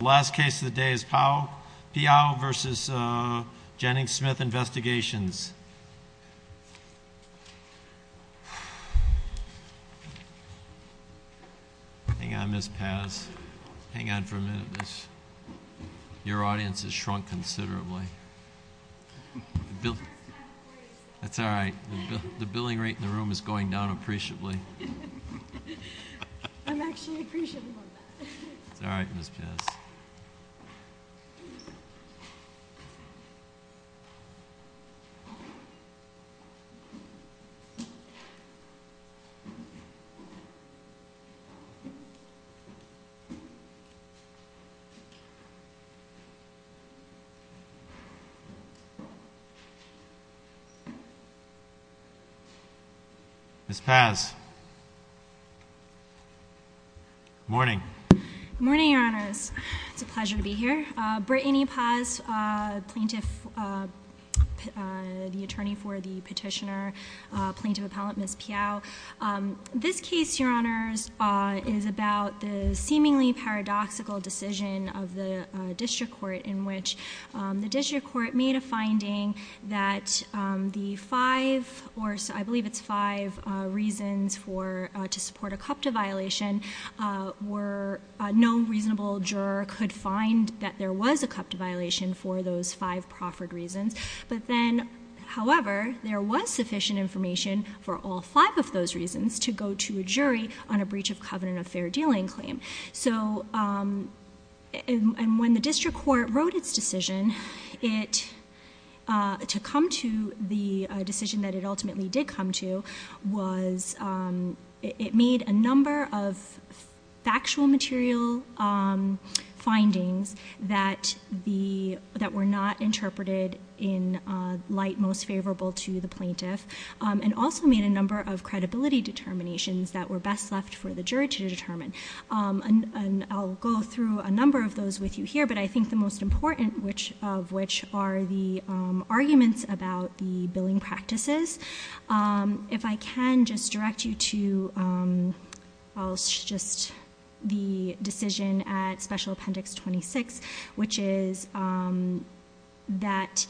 The last case of the day is Piao v. Jennings-Smith Investigations. Hang on, Ms. Paz. Hang on for a minute. Your audience has shrunk considerably. That's all right. The billing rate in the room is going down appreciably. I'm actually appreciative of that. It's all right, Ms. Paz. Ms. Paz. Ms. Paz. Morning. Morning, Your Honors. It's a pleasure to be here. Brittany Paz, the attorney for the petitioner, plaintiff appellant, Ms. Piao. This case, Your Honors, is about the seemingly paradoxical decision of the district court in which the district court made a finding that the five, or I believe it's five, reasons to support a CUPTA violation were no reasonable juror could find that there was a CUPTA violation for those five proffered reasons. But then, however, there was sufficient information for all five of those reasons to go to a jury on a breach of covenant of fair dealing claim. And when the district court wrote its decision to come to the decision that it ultimately did come to, it made a number of factual material findings that were not interpreted in light most favorable to the plaintiff, and also made a number of credibility determinations that were best left for the jury to determine. And I'll go through a number of those with you here, but I think the most important of which are the arguments about the billing practices. If I can just direct you to the decision at Special Appendix 26, which is that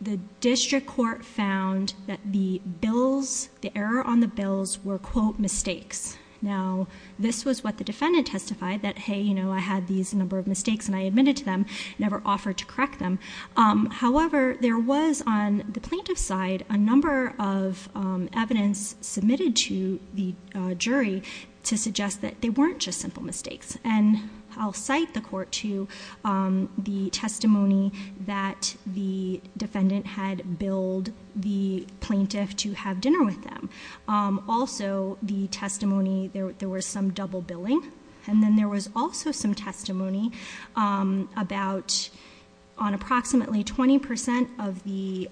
the district court found that the bills, the error on the bills, were, quote, mistakes. Now this was what the defendant testified, that hey, you know, I had these number of mistakes and I admitted to them, never offered to correct them. However, there was, on the plaintiff's side, a number of evidence submitted to the jury to suggest that they weren't just simple mistakes. And I'll cite the court to the testimony that the defendant had billed the plaintiff to have dinner with them. Also the testimony, there was some double billing, and then there was also some testimony about, on approximately 20% of the,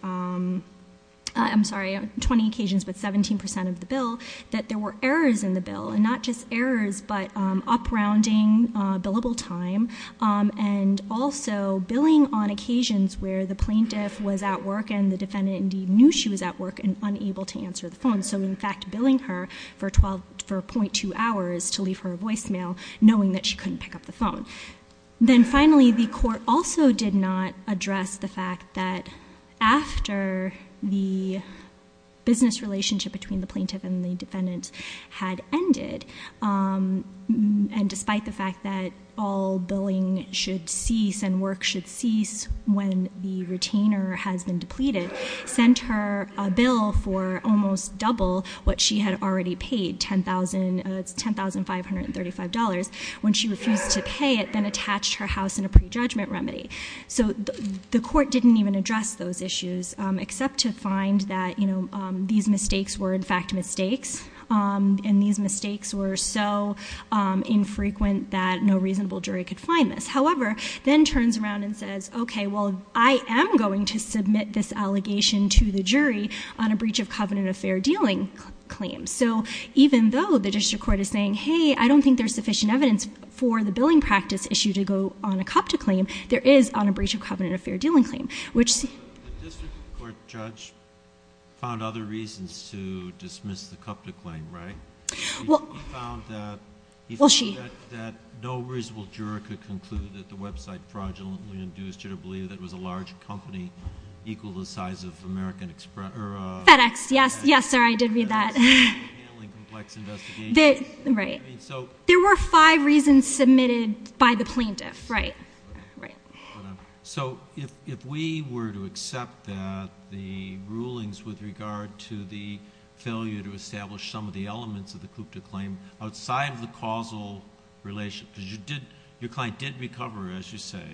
I'm sorry, 20 occasions, but 17% of the bill, that there were errors in the bill, and not just errors, but up-rounding billable time, and also billing on occasions where the plaintiff was at work and the defendant indeed knew she was at work and unable to answer the phone. So in fact, billing her for .2 hours to leave her a voicemail, knowing that she couldn't pick up the phone. Then finally, the court also did not address the fact that after the business relationship between the plaintiff and the defendant had ended, and despite the fact that all billing should cease and work should cease when the retainer has been depleted, sent her a bill for almost double what she had already paid, $10,535, when she refused to pay it, then attached her house in a prejudgment remedy. So the court didn't even address those issues, except to find that these mistakes were in fact mistakes, and these mistakes were so infrequent that no reasonable jury could find this. However, then turns around and says, okay, well I am going to submit this allegation to the jury on a breach of covenant affair dealing claim. So even though the district court is saying, hey, I don't think there is sufficient evidence for the billing practice issue to go on a CUPTA claim, there is on a breach of covenant affair dealing claim. The district court judge found other reasons to dismiss the CUPTA claim, right? He found that no reasonable juror could conclude that the website fraudulently induced you to believe that it was a large company equal to the size of American FedEx. Yes, sir, I did read that. There were five reasons submitted by the plaintiff. If we were to accept that the rulings with regard to the failure to establish some of the elements of the CUPTA claim outside of the causal relationship, because your client did recover, as you say,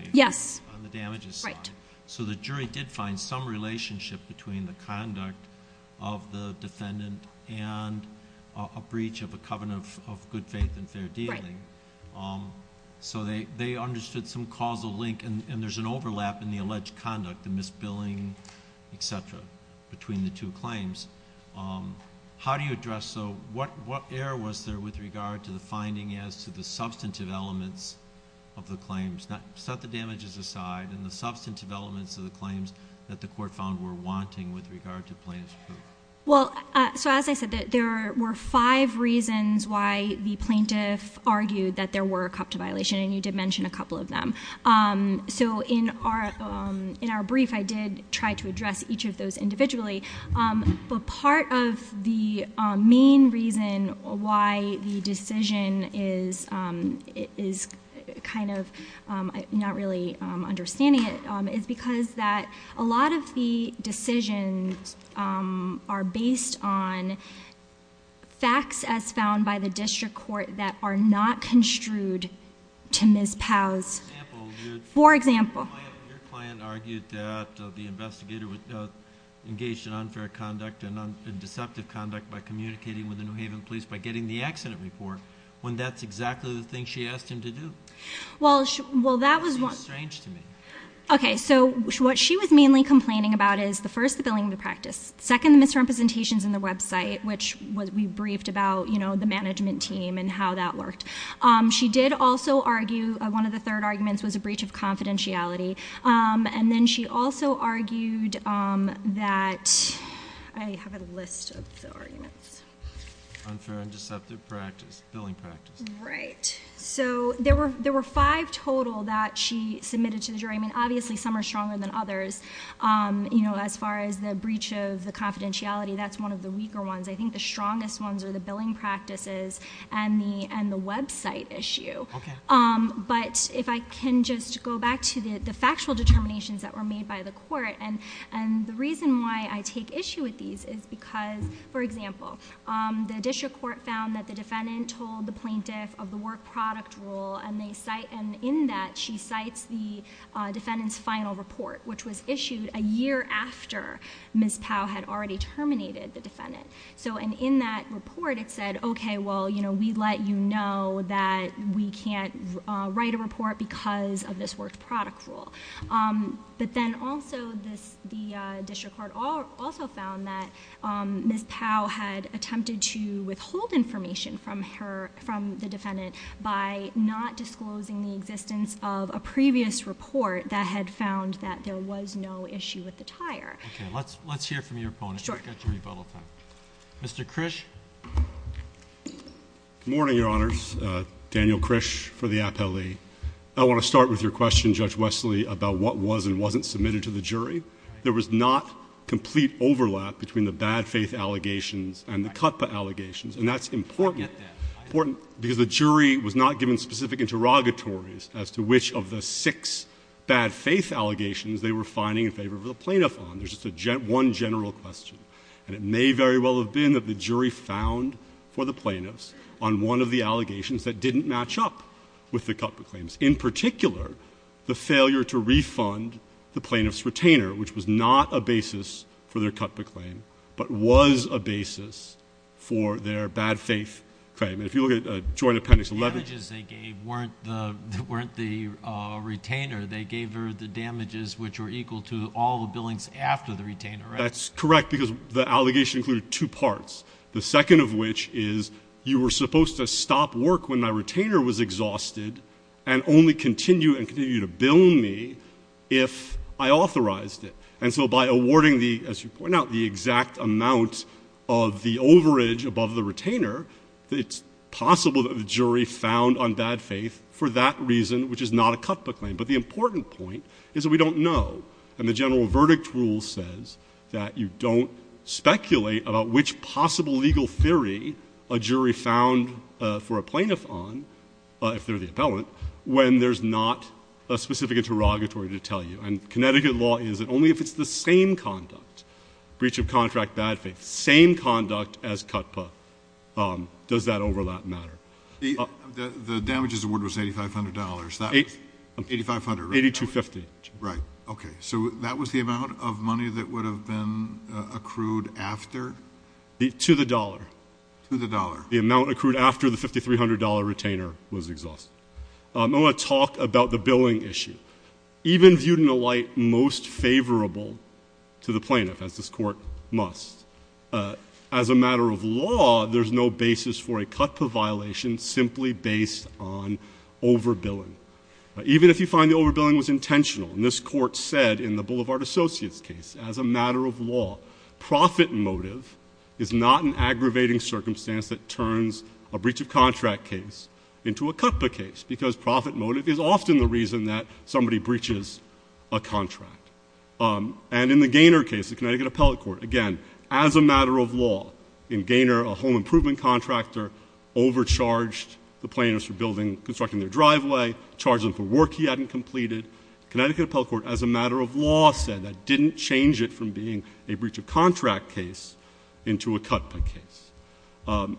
on the damages side, so the jury did find some relationship between the conduct of the defendant and a breach of a covenant of good faith and fair dealing. They understood some causal link, and there's an overlap in the alleged conduct, the misbilling, et cetera, between the two claims. How do you address... what error was there with regard to the finding as to the substantive elements of the claims? Set the damages aside and the substantive elements of the claims that the court found were wanting with regard to plaintiff's proof? As I said, there were five reasons why the plaintiff argued that there were a CUPTA violation, and you did mention a couple of them. In our brief, I did try to address each of those individually, but part of the main reason why the decision is kind of not really understanding it is because a lot of the decisions are based on facts as found by the district court that are not construed to Ms. Powell's... for example... Your client argued that the investigator engaged in unfair conduct and deceptive conduct by communicating with the New Haven police by getting the accident report when that's exactly the thing she asked him to do. That seems strange to me. Okay, so what she was mainly complaining about is, first, the billing practice, second, the misrepresentations in the website, which we briefed about the management team and how that worked. She did also argue... one of the third arguments was a breach of confidentiality, and then she also argued that... I have a list of the arguments. Unfair and deceptive practice. Billing practice. Right. So there were five total that she submitted to the jury. I mean, obviously some are stronger than others. You know, as far as the breach of the confidentiality, that's one of the weaker ones. I think the strongest ones are the billing practices and the website issue. But if I can just go back to the factual determinations that were made by the court, and the reason why I take issue with these is because... for example, the district court found that the defendant told the plaintiff of the work product rule, and in that she cites the defendant's final report, which was issued a year after Ms. Powell had already terminated the defendant. And in that report, it said, okay, well, we let you know that we can't write a report because of this work product rule. But then also, the plaintiff, Ms. Powell, had attempted to withhold information from the defendant by not disclosing the existence of a previous report that had found that there was no issue with the tire. Okay. Let's hear from your opponent. Sure. Mr. Krish. Good morning, Your Honors. Daniel Krish for the appellee. I want to start with your question, Judge Wesley, about what was and wasn't submitted to the jury. There was not complete overlap between the bad faith allegations and the CUTPA allegations. And that's important because the jury was not given specific interrogatories as to which of the six bad faith allegations they were finding in favor of the plaintiff on. There's just one general question. And it may very well have been that the jury found for the plaintiffs on one of the allegations that didn't match up with the CUTPA claims. In particular, the failure to refund the plaintiff's retainer, which was not a basis for their CUTPA claim, but was a basis for their bad faith claim. And if you look at Joint Appendix 11. The damages they gave weren't the retainer. They gave her the damages which were equal to all the billings after the retainer, right? That's correct because the allegation included two parts. The second of which is you were supposed to stop work when my retainer was exhausted and only continue and continue to bill me if I authorized it. And so by awarding the, as you point out, the exact amount of the overage above the retainer, it's possible that the jury found on bad faith for that reason, which is not a CUTPA claim. But the important point is that we don't know. And the general verdict rule says that you don't speculate about which possible legal theory a jury found for a plaintiff on, if they're the appellant, when there's not a specific interrogatory to tell you. And Connecticut law is that only if it's the same conduct, breach of contract, bad faith, same conduct as CUTPA, does that overlap matter. The damages award was $8,500. $8,500. $8,250. Right. Okay. So that was the amount of money that would have been accrued after? To the dollar. To the dollar. The amount accrued after the $5,300 retainer was exhausted. I want to talk about the billing issue. Even viewed in a light most favorable to the plaintiff, as this court must, as a matter of law, there's no basis for a CUTPA violation simply based on overbilling. Even if you find the overbilling was intentional, and this court said in the Boulevard Associates case, as a matter of law, profit motive is not an aggravating circumstance that turns a breach of contract case into a CUTPA case, because profit motive is often the reason that somebody breaches a contract. And in the Gaynor case, the Connecticut Appellate Court, again, as a matter of law, in Gaynor a home improvement contractor overcharged the plaintiffs for constructing their driveway, charged them for work he hadn't completed. Connecticut Appellate Court, as a matter of law, said that didn't change it from being a breach of contract case into a CUTPA case.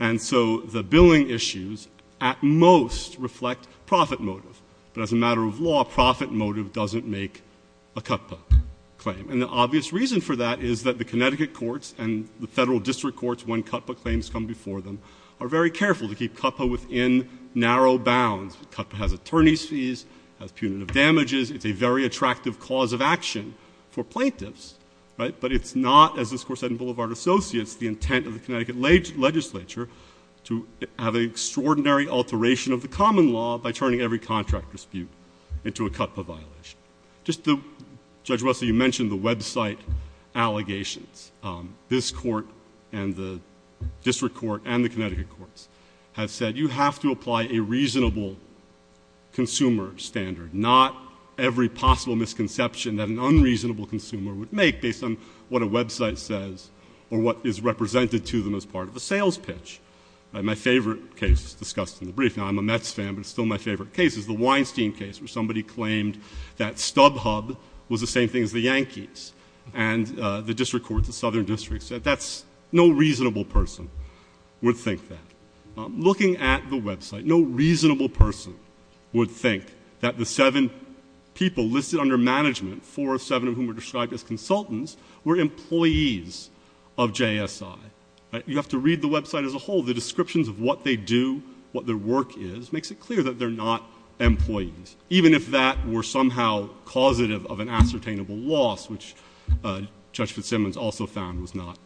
And so the billing issues at most reflect profit motive. But as a matter of law, profit motive doesn't make a CUTPA claim. And the obvious reason for that is that the Connecticut courts and the federal district courts, when CUTPA claims come before them, are very careful to keep CUTPA within narrow bounds. CUTPA has attorney's fees, has punitive damages, it's a very attractive opportunity for the Connecticut legislature to have an extraordinary alteration of the common law by turning every contract dispute into a CUTPA violation. Judge Russell, you mentioned the website allegations. This court and the district court and the Connecticut courts have said you have to apply a reasonable consumer standard, not every possible misconception that an unreasonable consumer would make based on what a website says or what is represented to them as part of a sales pitch. My favorite case discussed in the brief, now I'm a Mets fan, but it's still my favorite case, is the Weinstein case where somebody claimed that StubHub was the same thing as the Yankees. And the district court, the southern district said that's no reasonable person would think that. Looking at the website, no reasonable person would think that the seven people listed under management, four of seven of whom were described as consultants, were employees of JSI. You have to read the website as a whole. The descriptions of what they do, what their work is, makes it clear that they're not employees, even if that were somehow causative of an ascertainable loss, which Judge Fitzsimmons also found was not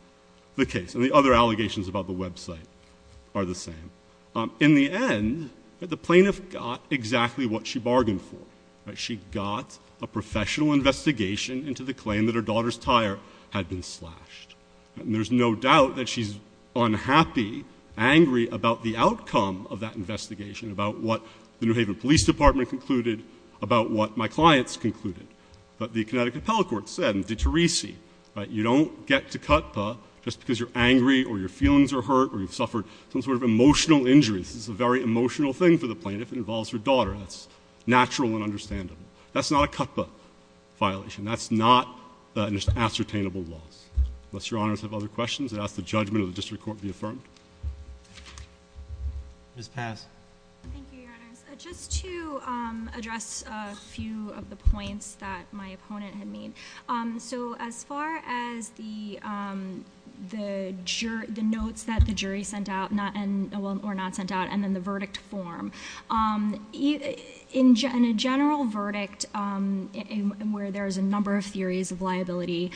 the case. And the other allegations about the website are the same. In the end, the plaintiff got exactly what she bargained for. She got a professional investigation into the claim that her daughter's tire had been slashed. And there's no doubt that she's unhappy, angry about the outcome of that investigation, about what the New Haven Police Department concluded, about what my clients concluded. But the Connecticut Appellate Court said, and did Therese, you don't get to CUTPA just because you're angry or your feelings are hurt or you've suffered some sort of emotional injury. This is a very emotional thing for the plaintiff. It involves her daughter. That's natural and not a violation. That's not an ascertainable loss. Unless Your Honors have other questions, I'd ask the judgment of the District Court be affirmed. Ms. Pass. Thank you, Your Honors. Just to address a few of the points that my opponent had made. So as far as the notes that the jury sent out, or not sent out, and then the verdict form. In a general verdict, where there's a number of theories of liability,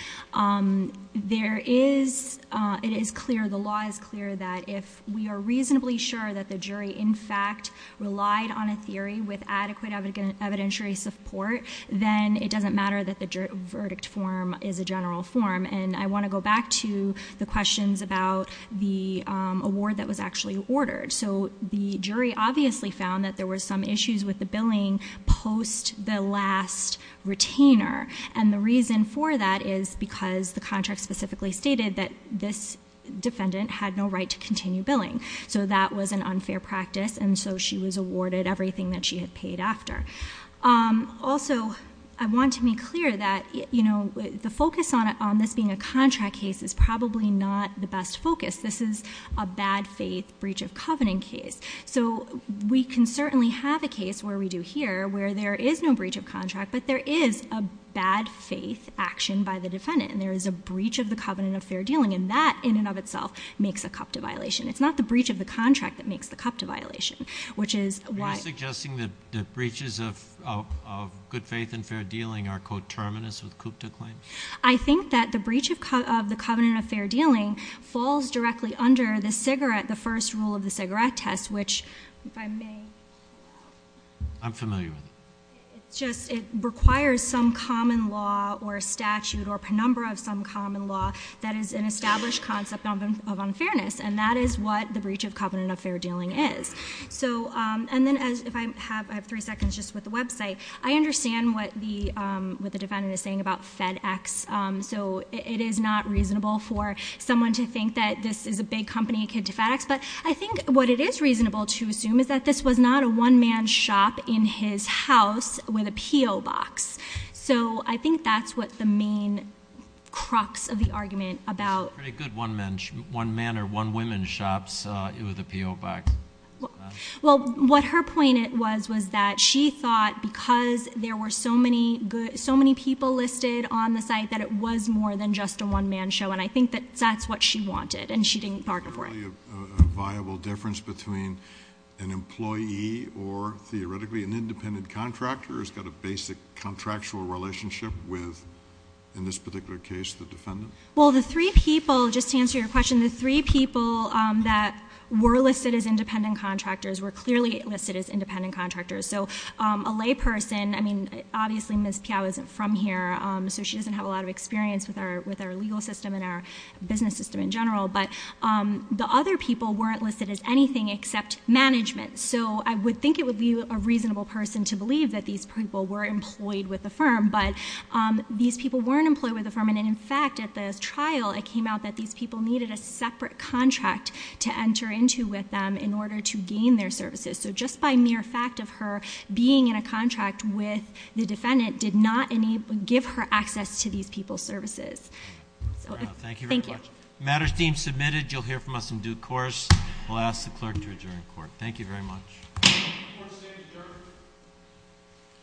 there is, it is clear, the law is clear that if we are reasonably sure that the jury, in fact, relied on a theory with adequate evidentiary support, then it doesn't matter that the verdict form is a general form. And I want to go back to the questions about the award that was actually ordered. So the jury obviously found that there were some issues with the last retainer. And the reason for that is because the contract specifically stated that this defendant had no right to continue billing. So that was an unfair practice, and so she was awarded everything that she had paid after. Also, I want to be clear that the focus on this being a contract case is probably not the best focus. This is a bad faith breach of covenant case. So we can certainly have a case where we do here, where there is no breach of contract, but there is a bad faith action by the defendant. And there is a breach of the covenant of fair dealing. And that, in and of itself, makes a CUPTA violation. It's not the breach of the contract that makes the CUPTA violation, which is why... Are you suggesting that breaches of good faith and fair dealing are coterminous with CUPTA claims? I think that the breach of the covenant of fair dealing falls directly under the cigarette, the first rule of the cigarette test, which if I may... I'm familiar with it. It requires some common law or statute or penumbra of some common law that is an established concept of unfairness, and that is what the breach of covenant of fair dealing is. And then, if I have three seconds just with the website, I understand what the defendant is saying about FedEx. So it is not reasonable for someone to think that this is a big company akin to FedEx, but I think what it is reasonable to assume is that this was not a one-man shop in his house with a P.O. box. So I think that's what the main crux of the argument about... It's a pretty good one-man or one-woman shops with a P.O. box. Well, what her point was was that she thought because there were so many people listed on the site that it was more than just a one-man show. And I think that that's what she wanted, and she didn't bargain for it. Is there really a viable difference between an employee or, theoretically, an independent contractor who's got a basic contractual relationship with, in this particular case, the defendant? Well, the three people, just to answer your question, the three people that were listed as independent contractors were clearly listed as independent contractors. So a layperson, I mean, obviously Ms. Piao isn't from here, so she doesn't have a lot of experience with our legal system and our business system in general, but the other people weren't listed as anything except management. So I would think it would be a reasonable person to believe that these people were employed with the firm, but these people weren't employed with the firm, and in fact, at the trial, it came out that these people needed a separate contract to enter into with them in order to gain their services. So just by mere fact of her being in a contract with the defendant did not give her access to these people's services. Thank you very much. The matter is deemed submitted. You'll hear from us in due course. I'll ask the clerk to adjourn the court. Thank you very much.